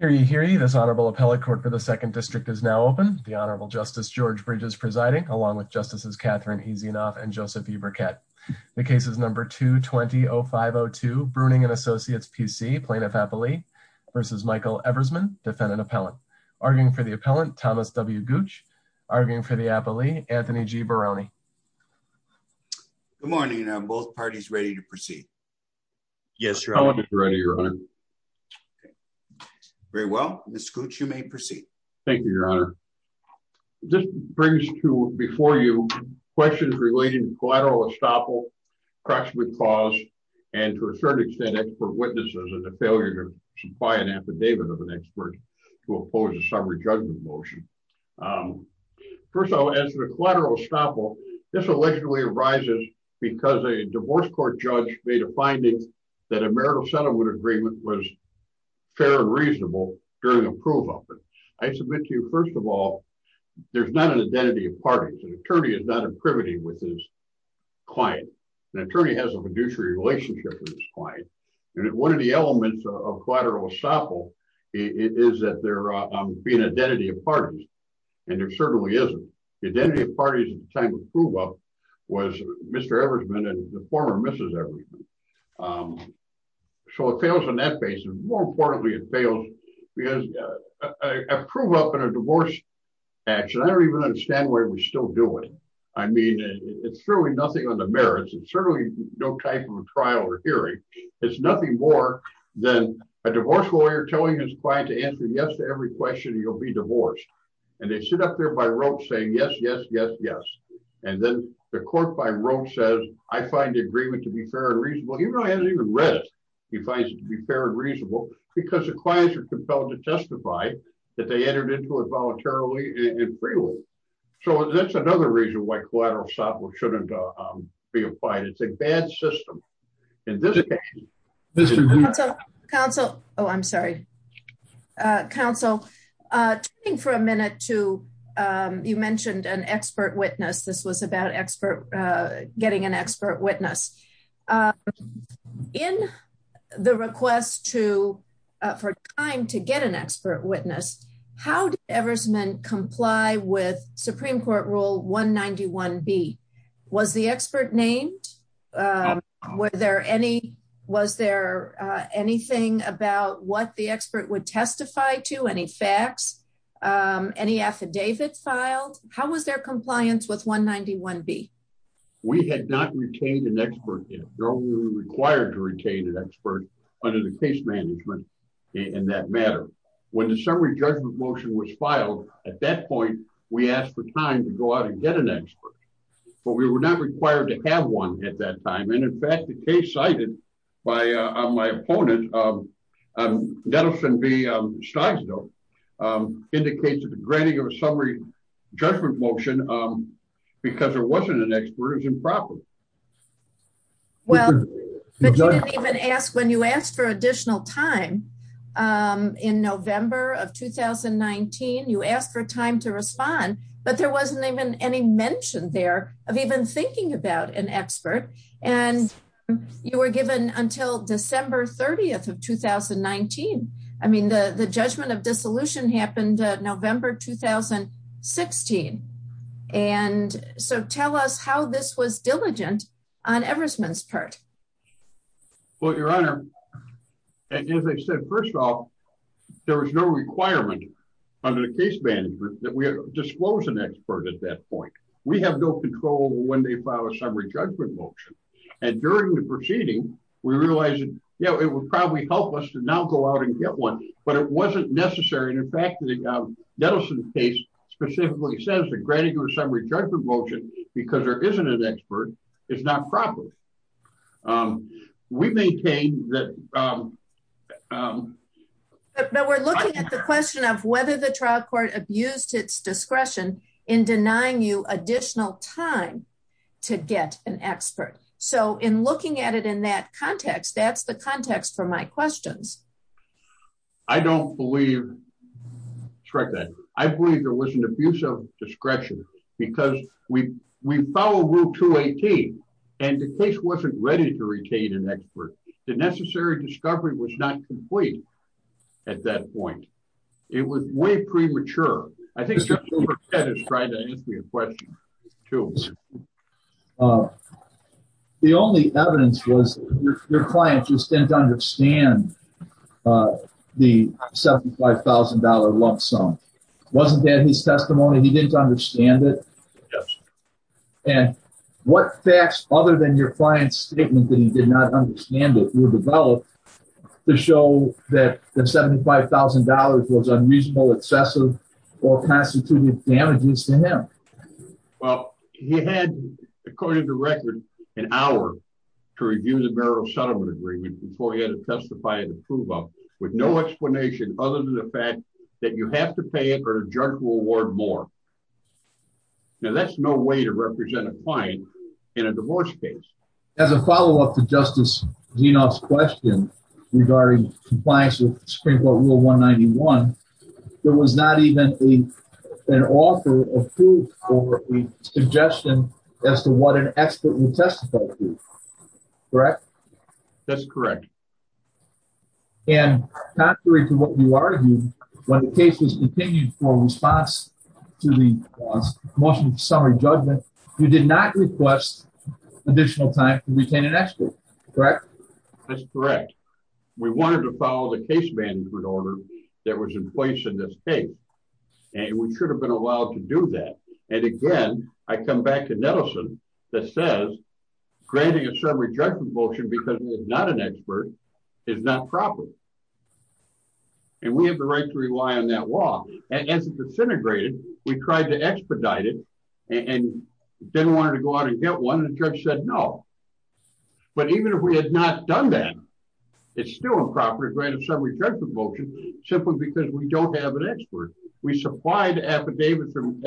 This Honorable Appellate Court for the 2nd District is now open. The Honorable Justice George Bridges presiding, along with Justices Catherine Easinoff and Joseph E. Burkett. The cases number 220502, Bruning & Associates PC, Plaintiff-Appellee vs. Michael Eversman, Defendant-Appellant. Arguing for the Appellant, Thomas W. Gooch. Arguing for the Appellee, Anthony G. Barone. Good morning, and are both parties ready to proceed? Yes, Your Honor. The Appellant is ready, Your Honor. Very well. Ms. Gooch, you may proceed. Thank you, Your Honor. This brings to before you questions relating to collateral estoppel, cracks with claws, and to a certain extent, expert witnesses and the failure to supply an affidavit of an expert to oppose a summary judgment motion. First of all, as to the collateral estoppel, this allegedly arises because a divorce court judge made a finding that a marital settlement agreement was fair and reasonable during a prove-up. I submit to you, first of all, there's not an identity of parties. An attorney is not in privity with his client. An attorney has a fiduciary relationship with his client. One of the elements of collateral estoppel is that there be an identity of parties, and there certainly isn't. The identity of parties at the time of the prove-up was Mr. Eversman and the former Mrs. Eversman. So it fails on that basis. More importantly, it fails because a prove-up in a divorce action, I don't even understand what it was still doing. I mean, it's certainly nothing on the merits. It's certainly no type of a trial or hearing. It's nothing more than a divorce lawyer telling his client to answer yes to every question and you'll be divorced. And they sit up there by rote saying yes, yes, yes, yes. And then the court by rote says, I find the agreement to be fair and reasonable. He hasn't even read it. He finds it to be fair and reasonable because the clients are compelled to testify that they entered into it voluntarily and freely. So that's another reason why collateral estoppel shouldn't be applied. It's a bad system. Counsel. Oh, I'm sorry. Counsel, turning for a minute to, you mentioned an expert witness. This was about expert, getting an expert witness in the request to, for time to get an expert witness. How did Eversman comply with Supreme Court Rule 191B? Was the expert named? Were there any, was there anything about what the expert would testify to? Any facts, any affidavits filed? How was their compliance with 191B? We had not retained an expert yet. We were required to retain an expert under the case management in that matter. When the summary judgment motion was filed, at that point, we asked for time to go out and get an expert. But we were not required to have one at that time. And in fact, the case cited by my opponent, Denison B. Steinsdorf, indicates that the granting of a summary judgment motion because there wasn't an expert is improper. Well, but you didn't even ask, when you asked for additional time in November of 2019, you there wasn't even any mention there of even thinking about an expert. And you were given until December 30th of 2019. I mean, the judgment of dissolution happened November 2016. And so tell us how this was diligent on Eversman's part. Well, Your Honor, as I said, first of all, there was no requirement under the case management that we disclose an expert at that point. We have no control over when they file a summary judgment motion. And during the proceeding, we realized, yeah, it would probably help us to now go out and get one. But it wasn't necessary. And in fact, Denison's case specifically says that granting a summary judgment motion because there isn't an expert is not proper. We maintain that... But we're looking at the question of whether the trial court abused its discretion in denying you additional time to get an expert. So in looking at it in that context, that's the context for my questions. I don't believe... Correct that. I believe there was an abuse of discretion because we follow Rule 218. And the case wasn't ready to retain an expert. The necessary discovery was not complete at that point. It was way premature. I think Mr. Cooper has tried to ask me a question too. The only evidence was your client just didn't understand the $75,000 lump sum. Wasn't that his testimony? He didn't understand it? Yes. And what facts other than your client's statement that he did not understand it were developed to show that the $75,000 was unreasonable, excessive, or constituted damages to him? Well, he had, according to record, an hour to review the marital settlement agreement before he had to testify and approve of it, with no explanation other than the fact that you have to pay it or the judge will award more. Now, that's no way to represent a client in a divorce case. As a follow-up to Justice Genoff's question regarding compliance with Supreme Court Rule 191, there was not even an offer approved or a suggestion as to what an expert would testify to. Correct? That's correct. And contrary to what you argued, when the case was continued for response to the motion for summary judgment, you did not request additional time to retain an expert. Correct? That's correct. We wanted to follow the case management order that was in place in this case, and we should have been allowed to do that. And again, I come back to Nettleson that says granting a summary judgment motion because he is not an expert is not proper. And we have the right to rely on that law. As it disintegrated, we tried to expedite it and didn't want her to go out and get one, and the judge said no. But even if we had not done that, it's still improper to grant a summary judgment motion simply because we don't have an expert. We supplied the affidavit from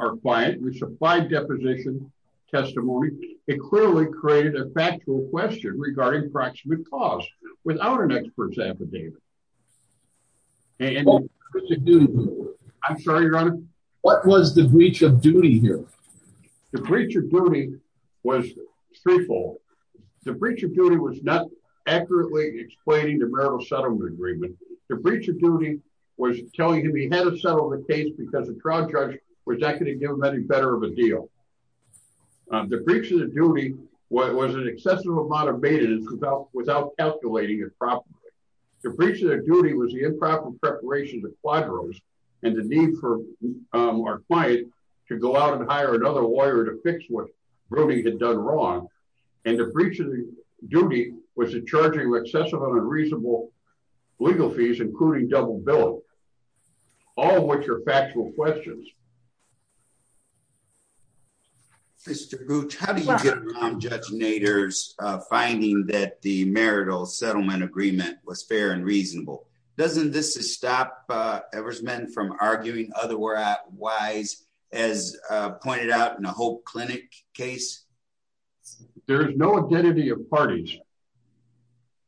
our client. We supplied deposition testimony. It clearly created a factual question regarding proximate cause without an expert's affidavit. I'm sorry, Your Honor. What was the breach of duty here? The breach of duty was threefold. The breach of duty was not accurately explaining the marital settlement agreement. The breach of duty was telling him he had to settle the case because the trial judge was not going to give him any better of a deal. The breach of duty was an excessive amount of maintenance without calculating it properly. The breach of duty was the improper preparation of the quadros and the need for our client to go out and hire another lawyer to fix what Brody had done wrong. And the breach of duty was the charging of excessive and unreasonable legal fees, including double billing, all of which are factual questions. Mr. Gooch, how do you get around Judge Nader's finding that the marital settlement agreement was fair and reasonable? Doesn't this stop Eversman from arguing otherwise, as pointed out in the Hope Clinic case? There is no identity of parties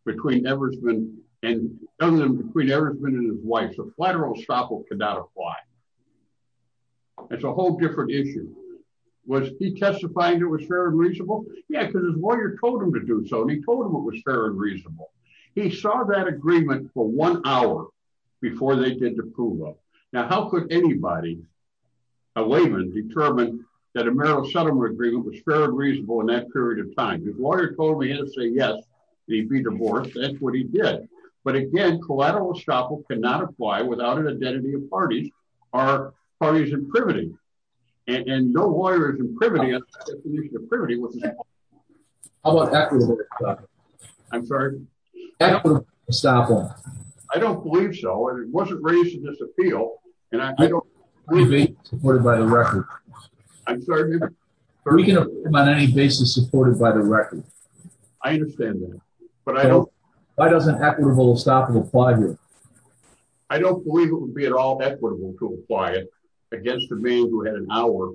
between Eversman and none of them between Eversman and his wife. The collateral estoppel cannot apply. It's a whole different issue. Was he testifying it was fair and reasonable? Yeah, because his lawyer told him to do so, and he told him it was fair and reasonable. He saw that agreement for one hour before they did the proof of. Now, how could anybody, a layman, determine that a marital settlement agreement was fair and reasonable in that period of time? His lawyer told him he had to say yes, there'd be divorce. That's what he did. But again, collateral estoppel cannot apply without an identity of parties or parties in privity. And no lawyer is in privity. How about equitable estoppel? I'm sorry? Equitable estoppel. I don't believe so. It wasn't raised in this appeal. I believe it's supported by the record. I'm sorry? We can approve on any basis supported by the record. I understand that. Why doesn't equitable estoppel apply here? I don't believe it would be at all equitable to apply it against a man who had an hour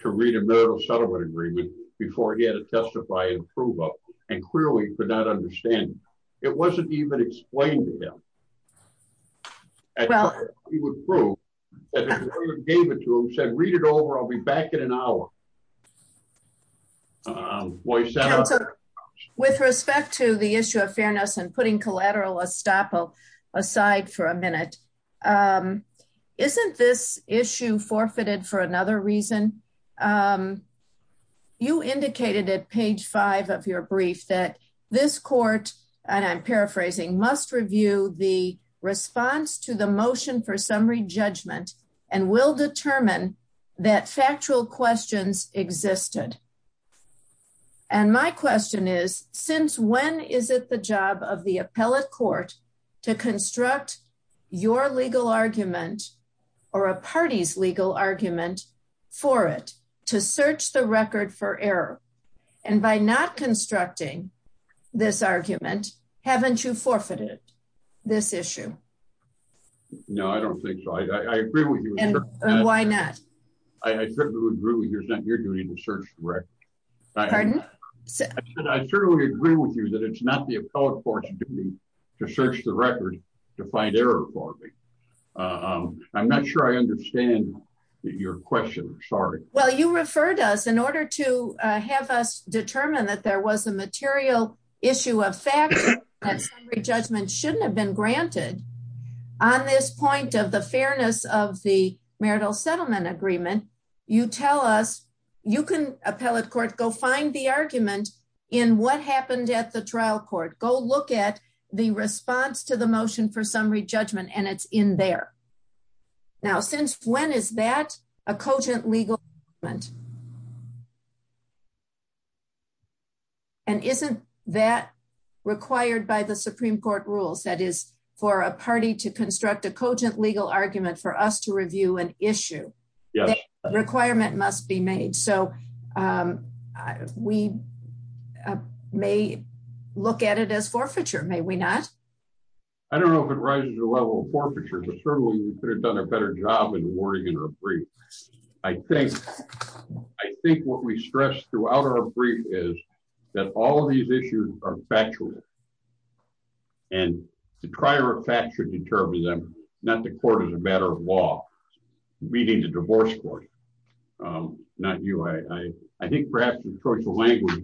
to read a marital settlement agreement before he had to testify and prove it, and clearly could not understand it. It wasn't even explained to him. He would prove that his lawyer gave it to him, said, read it over, I'll be back in an hour. With respect to the issue of fairness and putting collateral estoppel aside for a minute, isn't this issue forfeited for another reason? You indicated at page 5 of your brief that this court, and I'm paraphrasing, must review the response to the motion for summary judgment and will not consider it as a legal argument. I'm just saying that legal questions existed. And my question is, since when is it the job of the appellate court? To construct your legal argument. Or a party's legal argument. For it to search the record for error. And by not constructing. This argument haven't you forfeited. This issue. No, I don't think so. I agree with you. Why not? I certainly agree with you. You're doing the search. Right. Pardon. I certainly agree with you that it's not the appellate court. To search the record. To find error for me. I'm not sure I understand. Your question. Sorry. Well, you referred us in order to have us determine that there was a legal argument. That there was a legal argument. On this point of the fairness of the marital settlement agreement. You tell us. You can appellate court, go find the argument. In what happened at the trial court. Go look at the response to the motion for summary judgment. And it's in there. Now, since when is that a cogent legal. And isn't that. Required by the Supreme court rules. That is for a party to construct a cogent legal argument for us to review an issue. Requirement must be made. So. We. May look at it as forfeiture. May we not. I don't know. I don't know if it rises to the level of forfeiture. I think. I think what we stress throughout our brief is. That all of these issues are factual. And the prior effect should determine them. Not the court is a matter of law. Meeting the divorce court. Not you. I don't know if it rises to the level of forfeiture. I don't know if it rises to the level of forfeiture. I think perhaps.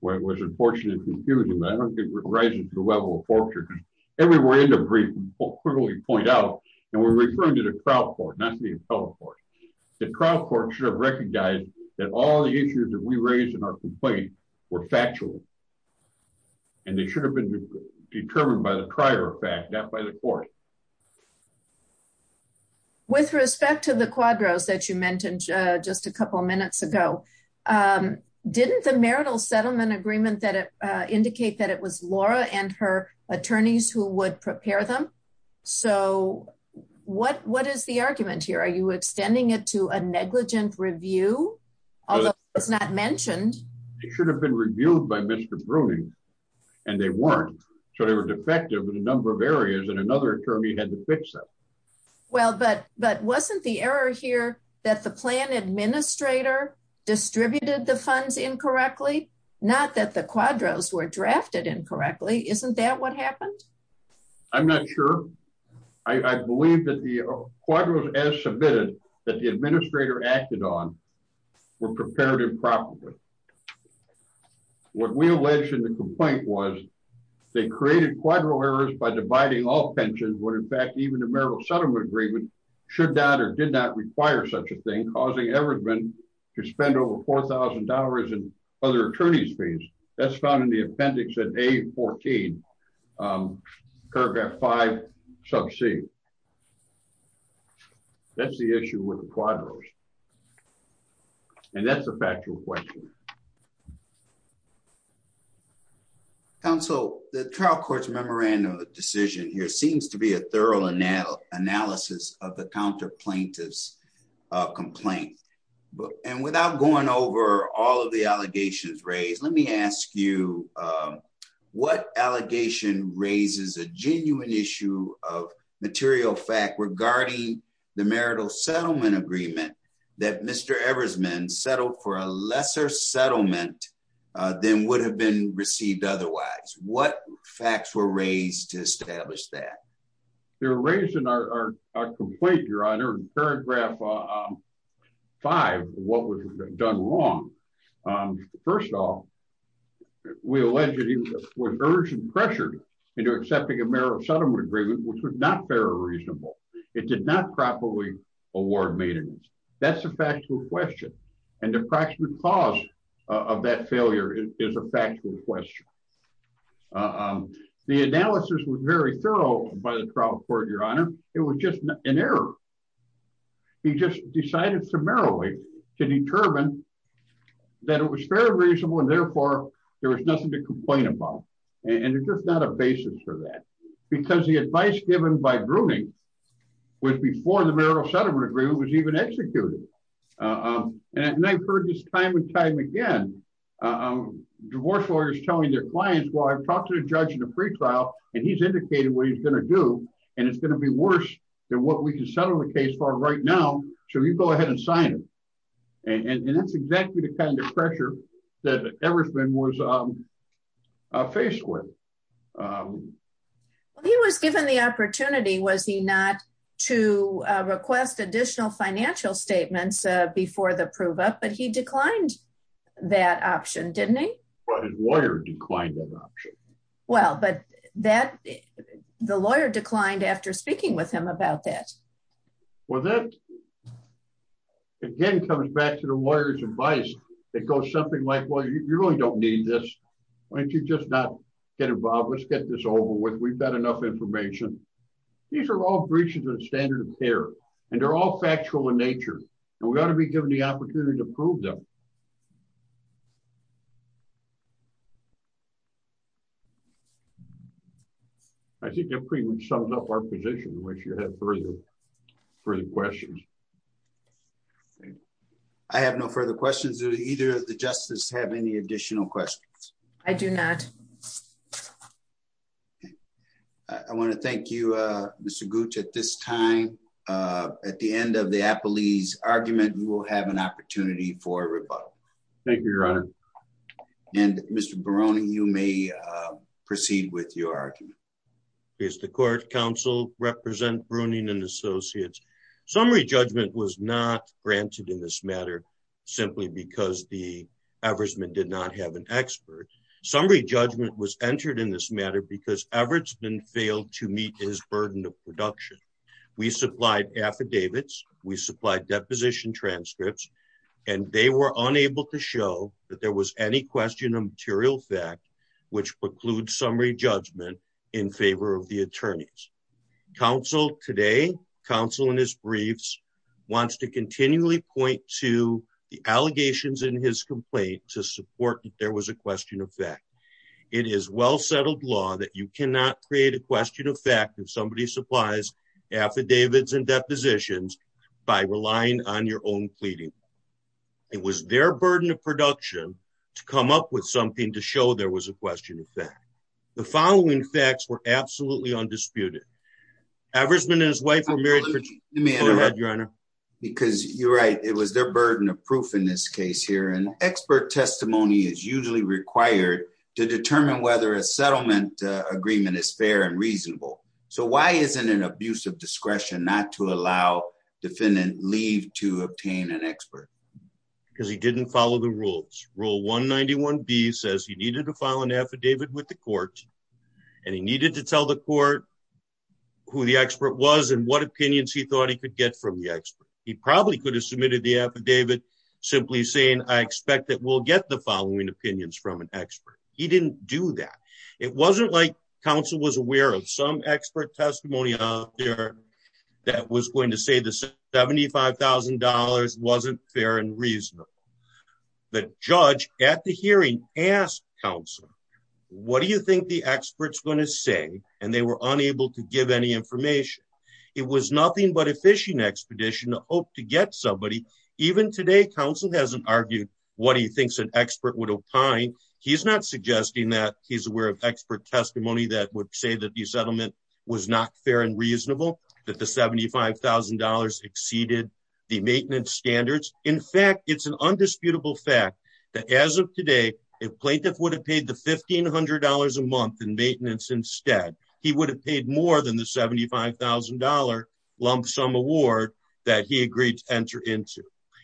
Where it was unfortunate. I don't think it rises to the level of forfeiture. Everywhere in the brief. Point out. And we're referring to the crowd. Not the appellate court. The trial court should have recognized that all the issues that we raised in our complaint were factual. And they should have been determined by the prior fact that by the court. I don't know. I don't know. With respect to the quadros that you mentioned. Just a couple of minutes ago. Didn't the marital settlement agreement that indicate that it was Laura and her attorneys who would prepare them. So what, what is the argument here? Are you extending it to a negligent review? It's not mentioned. It's not mentioned. It's not mentioned. It should have been reviewed by Mr. Bruning. And they weren't. So they were defective in a number of areas and another attorney had to fix that. Well, but, but wasn't the error here. That the plan administrator. Distributed the funds incorrectly. Not that the quadros were drafted incorrectly. Isn't that what happened? I'm not sure. I believe that the. The quadros as submitted that the administrator acted on. We're prepared improperly. What we alleged in the complaint was. They created quadro errors by dividing all pensions. What in fact, even the marital settlement agreement. Should not, or did not require such a thing. Causing ever been to spend over $4,000. Other attorney's fees. That's found in the appendix at a 14. That's the issue with the quadros. And that's a factual question. Counsel. The trial court's memorandum of decision here seems to be a thorough analysis. Analysis of the counter plaintiffs. Complaint. And without going over all of the allegations raised, let me ask you. What allegation raises a genuine issue of material fact regarding the marital settlement agreement. That Mr. Evers meant settled for a lesser settlement. Then would have been received. Otherwise, what facts were raised to establish that. They were raised in our, our, our complaint, your honor. Paragraph. Five, what was done wrong? First of all. We allege that he was urged and pressured. And you're accepting a marriage settlement agreement, which was not fair or reasonable. It did not properly. Award maintenance. That's a factual question. And the practical cause. Of that failure is a factual question. The analysis was very thorough by the trial court. Your honor. It was just an error. He just decided. That it was fair and reasonable. And therefore there was nothing to complain about. And it's just not a basis for that. Because the advice given by grooming. Was before the marital settlement agreement was even executed. And I've heard this time and time again. Divorce lawyers telling their clients. Well, I've talked to the judge in a free trial. And he's indicated what he's going to do. And it's going to be worse. I'm going to go ahead and sign it. And what we can settle the case for right now. So you go ahead and sign it. And that's exactly the kind of pressure. That everything was. A face with. He was given the opportunity. Was he not to request additional financial statements? Before the prove up, but he declined. That option. Didn't he. Well, his lawyer declined that option. Well, but that. The lawyer declined after speaking with him about that. Well, then. Again, comes back to the lawyer's advice. It goes something like, well, you really don't need this. Why don't you just not get involved? Let's get this over with. We've got enough information. These are all breaches of standard of care. And they're all factual in nature. And we ought to be given the opportunity to prove them. I think that pretty much sums up our position. I wish you had further. Further questions. I have no further questions. Either the justice have any additional questions. I do not. I want to thank you. Mr. Gooch at this time. At the end of the Apple. Lee's argument. We will have an opportunity for a rebuttal. Thank you, your honor. And Mr. Barone. You may proceed with your argument. Is the court council represent Bruning and associates. Okay. Summary judgment was not granted in this matter. Simply because the. Average men did not have an expert. Summary judgment was entered in this matter because Everett's been failed to meet his burden of production. We supplied affidavits. We supplied deposition transcripts. And they were unable to show that there was any question of material fact. In the case. Which precludes summary judgment. In favor of the attorneys. Counsel today. Counsel in his briefs. Wants to continually point to the allegations in his complaint to support that there was a question of fact. It is well-settled law that you cannot create a question of fact. If somebody supplies. Affidavits and depositions. By relying on your own pleading. It was their burden of production. To come up with something to show there was a question of fact. The following facts were absolutely undisputed. Average men and his wife were married. Because you're right. It was their burden of proof in this case here. And expert testimony is usually required. To determine whether a settlement agreement is fair and reasonable. So why isn't an abuse of discretion, not to allow. Defendant leave to obtain an expert. Because he didn't follow the rules. Rule one 91 B says he needed to file an affidavit with the court. And he needed to tell the court. Who the expert was and what opinions he thought he could get from the expert. He probably could have submitted the affidavit. Simply saying, I expect that we'll get the following opinions from an expert. He didn't do that. It wasn't like council was aware of some expert testimony. That was going to say this. $75,000 wasn't fair and reasonable. The judge at the hearing asked council. What do you think the expert's going to say? And they were unable to give any information. It was nothing but a fishing expedition to hope to get somebody. Even today, council hasn't argued. What he thinks an expert would opine. He's not suggesting that he's aware of expert testimony. That would say that the settlement. Was not fair and reasonable. That the $75,000 exceeded. The maintenance standards. In fact, it's an undisputable fact. That as of today. If plaintiff would have paid the $1,500 a month in maintenance, instead. He would have paid more than the $75,000. Lump sum award that he agreed to enter into.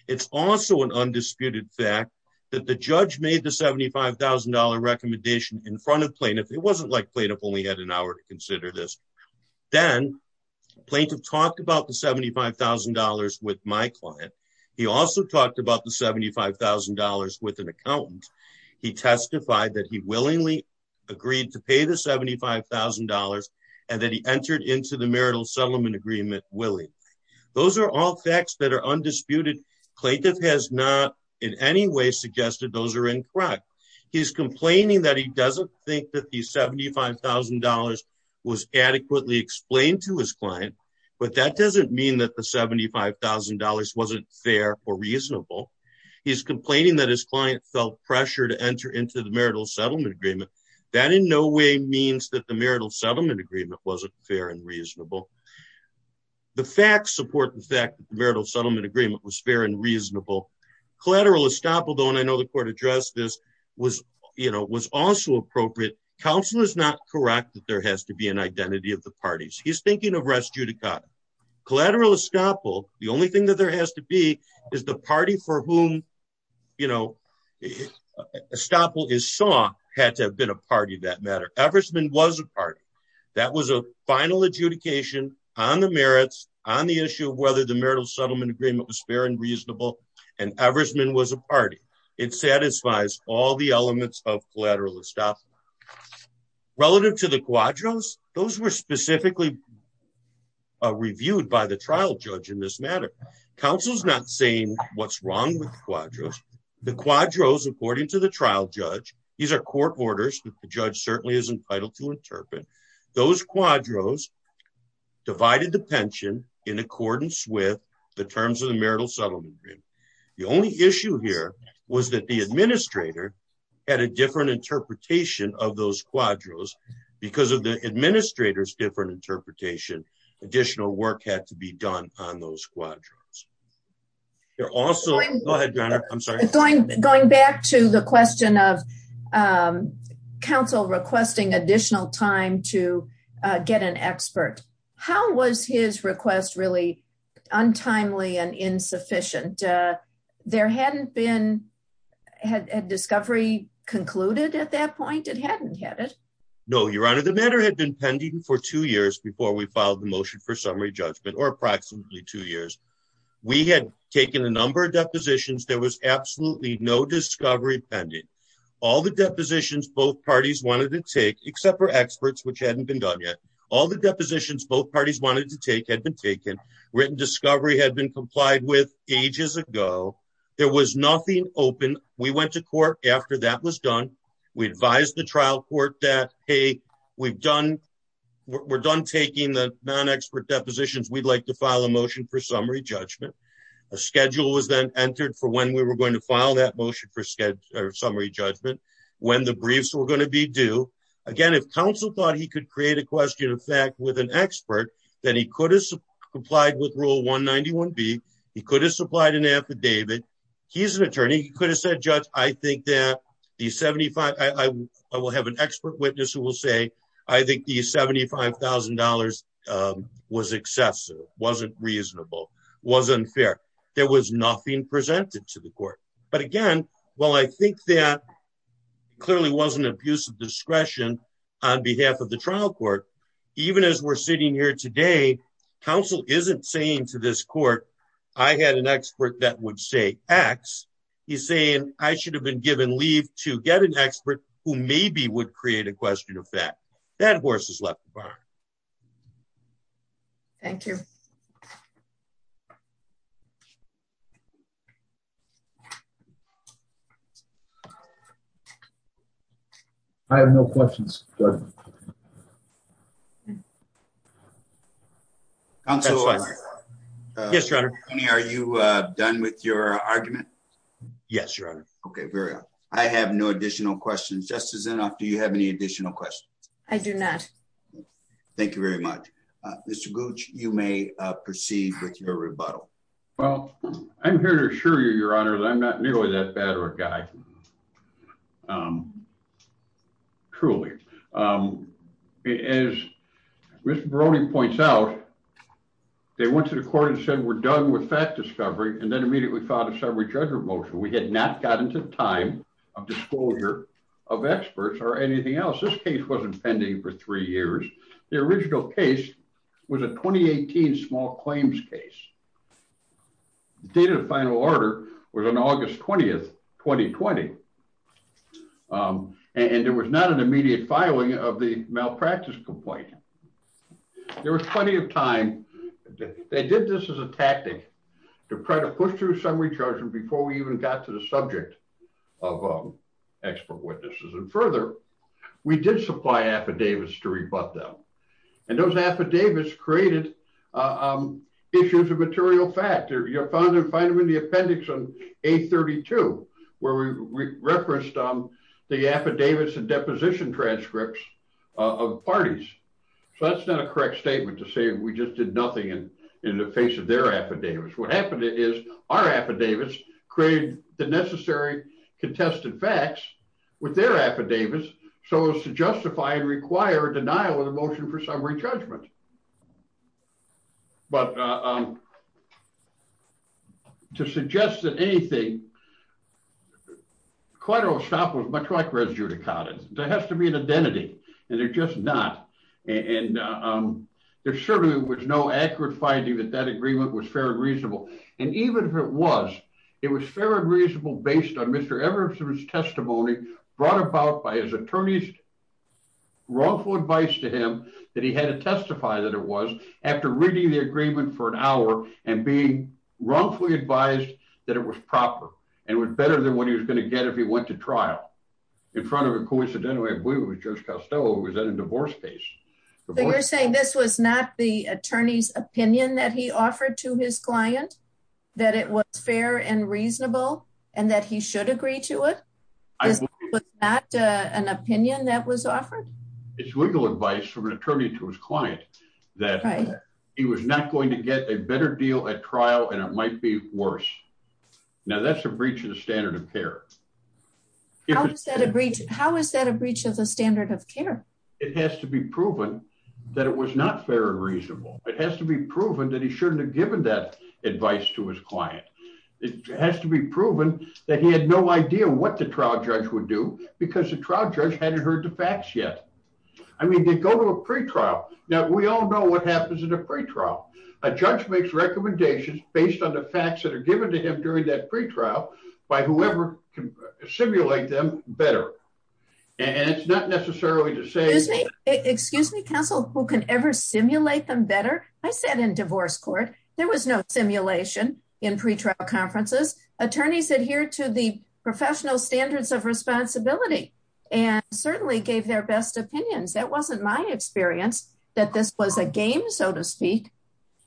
It's also an undisputed fact. That the judge made the $75,000 recommendation in front of plaintiff. It wasn't like plaintiff only had an hour to consider this. Then. Plaintiff talked about the $75,000 with my client. He also talked about the $75,000 with an accountant. He testified that he willingly. Agreed to pay the $75,000. And then he entered into the marital settlement agreement. Those are all facts that are undisputed. Plaintiff has not in any way suggested those are incorrect. He's complaining that he doesn't think that the $75,000. Was adequately explained to his client. But that doesn't mean that the $75,000 wasn't fair or reasonable. He's complaining that his client felt pressure to enter into the marital settlement agreement. That in no way means that the marital settlement agreement wasn't fair and reasonable. The facts support the fact that the marital settlement agreement was fair and reasonable. Collateral estoppel, though, and I know the court addressed this. Was, you know, was also appropriate. Counsel is not correct that there has to be an identity of the parties. He's thinking of res judicata. Collateral estoppel, the only thing that there has to be. Is the party for whom. You know. Estoppel is saw had to have been a party that matter. Eversman was a party. That was a final adjudication on the merits. On the issue of whether the marital settlement agreement was fair and reasonable. And Eversman was a party. It satisfies all the elements of collateral estoppel. Relative to the quadros. Those were specifically. Reviewed by the trial judge in this matter. Counsel's not saying what's wrong with the quadros. The quadros, according to the trial judge. These are court orders. The judge certainly is entitled to interpret. Those quadros. Divided the pension in accordance with the terms of the marital settlement. The only issue here was that the administrator. Had a different interpretation of those quadros. Because of the administrator's different interpretation. Additional work had to be done on those quadrants. You're also. I'm sorry. Going back to the question of. Counsel requesting additional time to. Get an expert. How was his request really. Untimely and insufficient. There hadn't been. Had discovery concluded at that point. It hadn't had it. No, your honor. The matter had been pending for two years. We had taken a number of depositions. There was absolutely no discovery pending. All the depositions, both parties wanted to take. Except for experts, which hadn't been done yet. All the depositions, both parties wanted to take had been taken. Written discovery had been complied with. Ages ago. There was nothing open. We went to court after that was done. We advised the trial court that, Hey, we've done. We're done taking the non-expert depositions. We'd like to file a motion for summary judgment. A schedule was then entered for when we were going to file that motion for sketch or summary judgment. When the briefs were going to be due again, if counsel thought he could create a question of fact with an expert. Then he could have supplied with rule one 91 B. He could have supplied an affidavit. He's an attorney. He could have said, judge. I think that the 75. I will have an expert witness who will say. I think the $75,000. Was excessive. Wasn't reasonable. Wasn't fair. There was nothing presented to the court. But again, well, I think that. Clearly wasn't abusive discretion. On behalf of the trial court. Even as we're sitting here today. Counsel isn't saying to this court. I had an expert that would say X. He's saying I should have been given leave to get an expert. I'm not going to do that. But that's an expert who maybe would create a question of fact. That horse is left. Thank you. I have no questions. Yes. Are you done with your argument? Yes. Okay. Very well. I have no additional questions. Just as enough. Do you have any additional questions? I do not. Thank you very much. Mr. Gooch. You may proceed with your rebuttal. Well, I'm here to assure you, your honor. I'm not nearly that bad of a guy. Truly. Well, I would like to start with a couple of things. As Mr. Brony points out. They went to the court and said, we're done with fact discovery. And then immediately thought of several judge remotion. We had not gotten to the time. Of disclosure. Of experts or anything else. This case wasn't pending for three years. The original case. Was a 2018 small claims case. The date of the final order was on August 20th, 2020. And there was not an immediate filing of the malpractice complaint. There was plenty of time. They did this as a tactic. To try to push through some recharging before we even got to the subject. Of expert witnesses and further. We did supply affidavits to rebut them. And those affidavits created. Issues of material fact. You'll find them in the appendix on a 32. Where we referenced. The affidavits and deposition transcripts. Of parties. So that's not a correct statement to say. We just did nothing. In the face of their affidavits. What happened is our affidavits. Create the necessary. Contested facts. With their affidavits. The affidavits. So to justify and require denial of the motion for summary judgment. But. To suggest that anything. Quite a little stop was much like where's Judy. There has to be an identity. And they're just not. And. There's certainly was no accurate finding that that agreement was fair and reasonable. And even if it was. It was fair and reasonable based on Mr. Everson's testimony. Brought about by his attorneys. Wrongful advice to him. That he had to testify that it was. After reading the agreement for an hour. And being wrongfully advised. That it was proper. And it was better than what he was going to get. If he went to trial. In front of a coincidence. And. He was in a divorce case. This was not the attorney's opinion that he offered to his client. That it was fair and reasonable and that he should agree to it. An opinion that was offered. It's legal advice from an attorney to his client. That. He was not going to get a better deal at trial and it might be worse. Now that's a breach of the standard of care. How is that a breach? How is that a breach of the standard of care? It has to be proven. That it was not fair and reasonable. It has to be proven that he shouldn't have given that advice to his client. It has to be proven that he had no idea what the trial judge would do because the trial judge hadn't heard the facts yet. I mean, they go to a pre-trial. Now we all know what happens in a free trial. A judge makes recommendations based on the facts that are given to him during that free trial. By whoever. Simulate them better. And it's not necessarily to say. Excuse me, counsel. Who can ever simulate them better. I sat in divorce court. There was no simulation. In pre-trial conferences. Attorneys adhere to the professional standards of responsibility. And certainly gave their best opinions. That wasn't my experience. And I don't know if that was a game. That this was a game, so to speak.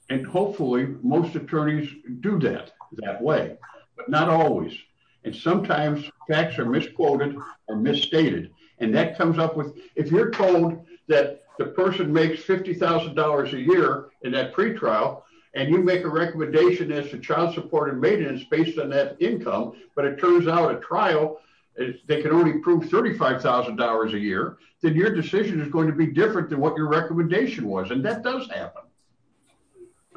And hopefully most attorneys do that. That way. But not always. And sometimes facts are misquoted. Or misstated. And that comes up with, if you're told that the person makes $50,000 a year in that pre-trial. And you make a recommendation as to child support and maintenance based on that income. But it turns out at trial, they can only prove $35,000 a year. Then your decision is going to be different than what your recommendation was. And that does happen.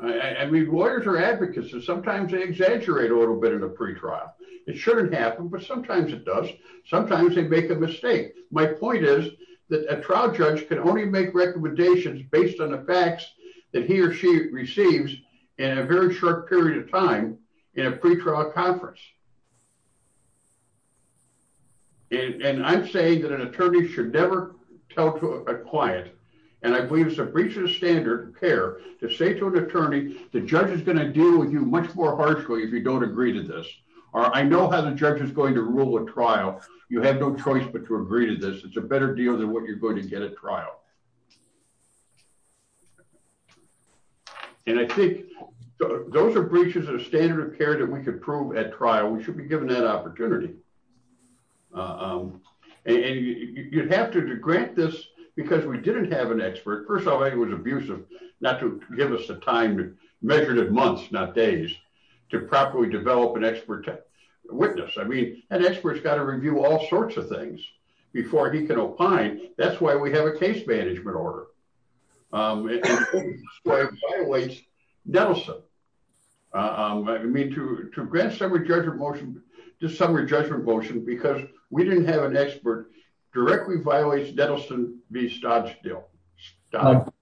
I mean, lawyers are advocates. And sometimes they exaggerate a little bit in a pre-trial. It shouldn't happen, but sometimes it does. Sometimes they make a mistake. My point is that a trial judge can only make recommendations based on the facts that he or she receives in a very short period of time. And that's what I'm saying. That's what I'm saying in a pre-trial conference. And I'm saying that an attorney should never tell a client. And I believe it's a breach of standard care to say to an attorney, the judge is going to deal with you much more harshly if you don't agree to this. Or I know how the judge is going to rule a trial. You have no choice, but to agree to this. It's a better deal than what you're going to get at trial. And I think those are breaches of standard of care that we can prove at trial. We should be given that opportunity. And you'd have to grant this because we didn't have an expert. First of all, he was abusive not to give us a time measured at months, not days to properly develop an expert witness. I mean, an expert has got to review all sorts of things before he can opine. That's why we have a case manager. I mean, we got to have an expert in the case management order. Dental. I mean, to grant summary judgment motion to summary judgment motion, because we didn't have an expert directly violates. That'll be still. That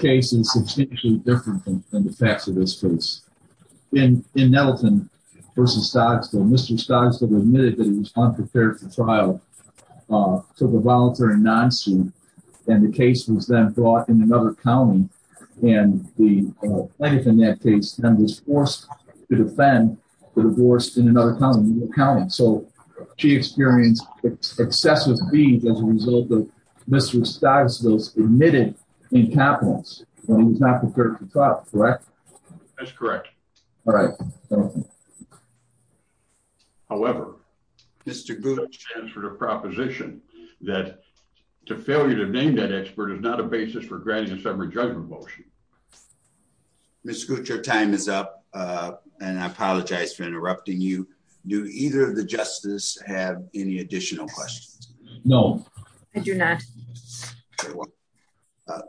case is substantially different than the facts of this case. And in Nelson versus Stocksville, Mr. Stocksville admitted that he was unprepared for trial. So the voluntary non-suit. And the case was then brought in another county. And the, anything that case was forced to defend the divorce in another county. So she experienced. It's excessive. As a result of Mr. Admitted in capital. Correct. That's correct. All right. However, Mr. Good for the proposition that. To failure to name that expert is not a basis for granting a summary judgment motion. Mr. Your time is up. And I apologize for interrupting you. Do either of the justice have any additional questions? No, I do not.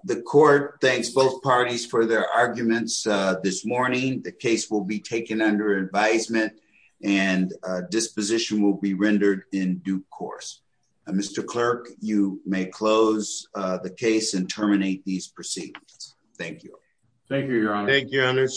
The court. Thanks both parties for their arguments. This morning, the case will be taken under advisement. And disposition will be rendered in due course. Mr. Clerk, you may close the case and terminate these proceedings. Thank you. Thank you, your honor. Thank you.